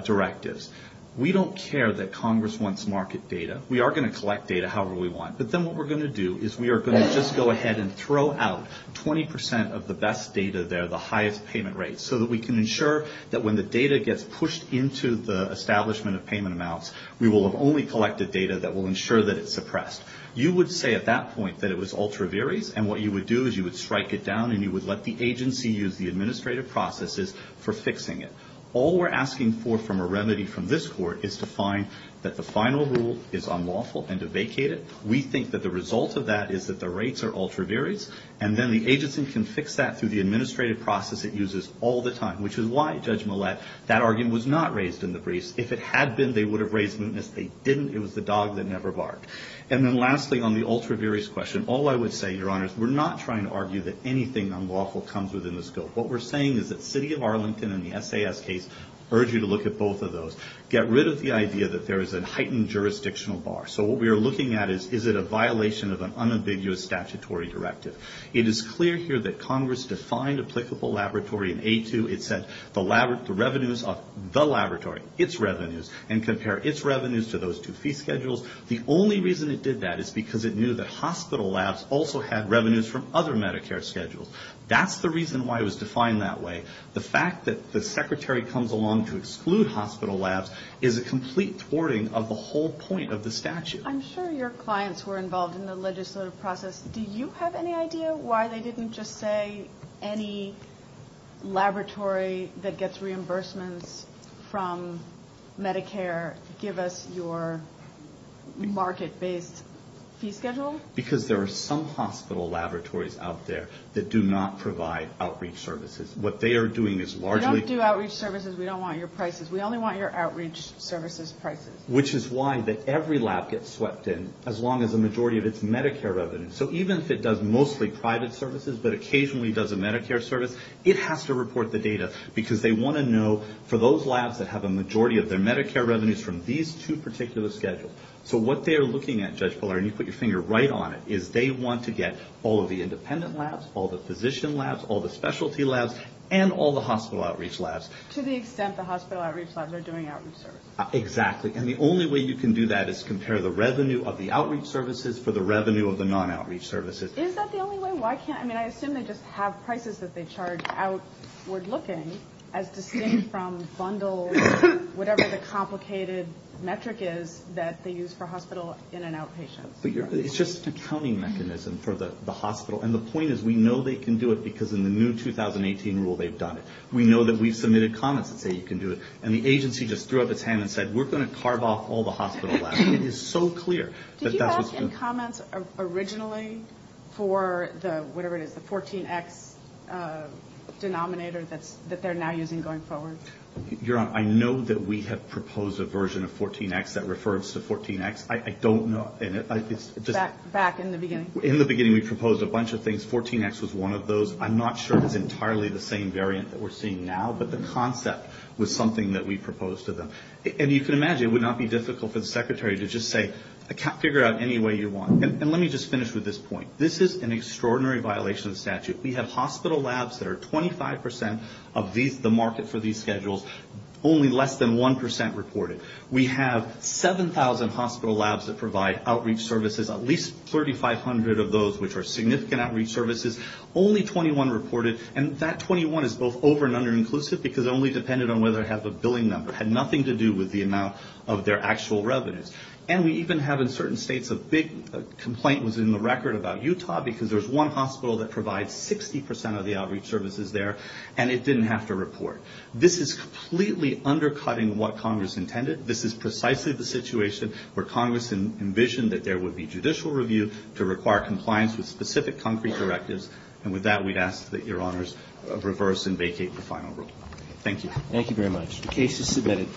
directives, we don't care that Congress wants market data. We are going to collect data however we want, but then what we're going to do is we are going to just go ahead and throw out 20% of the best data there, the highest payment rates, so that we can ensure that when the data gets pushed into the establishment of payment amounts, we will have only collected data that will ensure that it's suppressed. You would say at that point that it was ultra viris, and what you would do is you would strike it down, and you would let the agency use the administrative processes for fixing it. All we're asking for from a remedy from this Court is to find that the final rule is unlawful and to vacate it. We think that the result of that is that the rates are ultra viris, and then the agency can fix that through the administrative process it uses all the time, which is why, Judge Millett, that argument was not raised in the briefs. If it had been, they would have raised mootness. They didn't. It was the dog that never barked. And then lastly, on the ultra viris question, all I would say, Your Honors, we're not trying to argue that anything unlawful comes within the scope. What we're saying is that City of Arlington and the SAS case urge you to look at both of those. Get rid of the idea that there is a heightened jurisdictional bar. So what we are looking at is, is it a violation of an unambiguous statutory directive? It is clear here that Congress defined applicable laboratory in A2. It said the revenues of the laboratory, its revenues, and compare its revenues to those two fee schedules. The only reason it did that is because it knew that hospital labs also had revenues from other Medicare schedules. That's the reason why it was defined that way. The fact that the secretary comes along to exclude hospital labs is a complete thwarting of the whole point of the statute. I'm sure your clients were involved in the legislative process. Do you have any idea why they didn't just say any laboratory that gets reimbursements from Medicare, give us your market-based fee schedule? Because there are some hospital laboratories out there that do not provide outreach services. What they are doing is largely... We don't do outreach services. We don't want your prices. We only want your outreach services prices. Which is why every lab gets swept in as long as a majority of its Medicare revenues. So even if it does mostly private services but occasionally does a Medicare service, it has to report the data because they want to know for those labs that have a majority of their Medicare revenues from these two particular schedules. So what they are looking at, Judge Pillar, and you put your finger right on it, is they want to get all of the independent labs, all the physician labs, all the specialty labs, and all the hospital outreach labs. To the extent the hospital outreach labs are doing outreach services. Exactly. And the only way you can do that is compare the revenue of the outreach services for the revenue of the non-outreach services. Is that the only way? Why can't... I mean, I assume they just have prices that they charge outward looking as distinct from bundled, whatever the complicated metric is that they use for hospital in and out patients. It's just an accounting mechanism for the hospital. And the point is we know they can do it because in the new 2018 rule they've done it. We know that we've submitted comments that say you can do it. And the agency just threw up its hand and said we're going to carve off all the hospital labs. It is so clear. Did you ask in comments originally for the, whatever it is, the 14X denominator that they're now using going forward? Your Honor, I know that we have proposed a version of 14X that refers to 14X. I don't know... Back in the beginning. In the beginning we proposed a bunch of things. 14X was one of those. I'm not sure it's entirely the same variant that we're seeing now. But the concept was something that we proposed to them. And you can imagine it would not be difficult for the Secretary to just say figure out any way you want. And let me just finish with this point. This is an extraordinary violation of the statute. We have hospital labs that are 25% of the market for these schedules, only less than 1% reported. We have 7,000 hospital labs that provide outreach services, at least 3,500 of those which are significant outreach services, only 21 reported. And that 21 is both over and under inclusive because it only depended on whether it has a billing number. It had nothing to do with the amount of their actual revenues. And we even have in certain states a big complaint was in the record about Utah because there's one hospital that provides 60% of the outreach services there and it didn't have to report. This is completely undercutting what Congress intended. This is precisely the situation where Congress envisioned that there would be judicial review to require compliance with specific concrete directives, and with that we'd ask that Your Honors reverse and vacate the final rule. Thank you. Thank you very much. The case is submitted.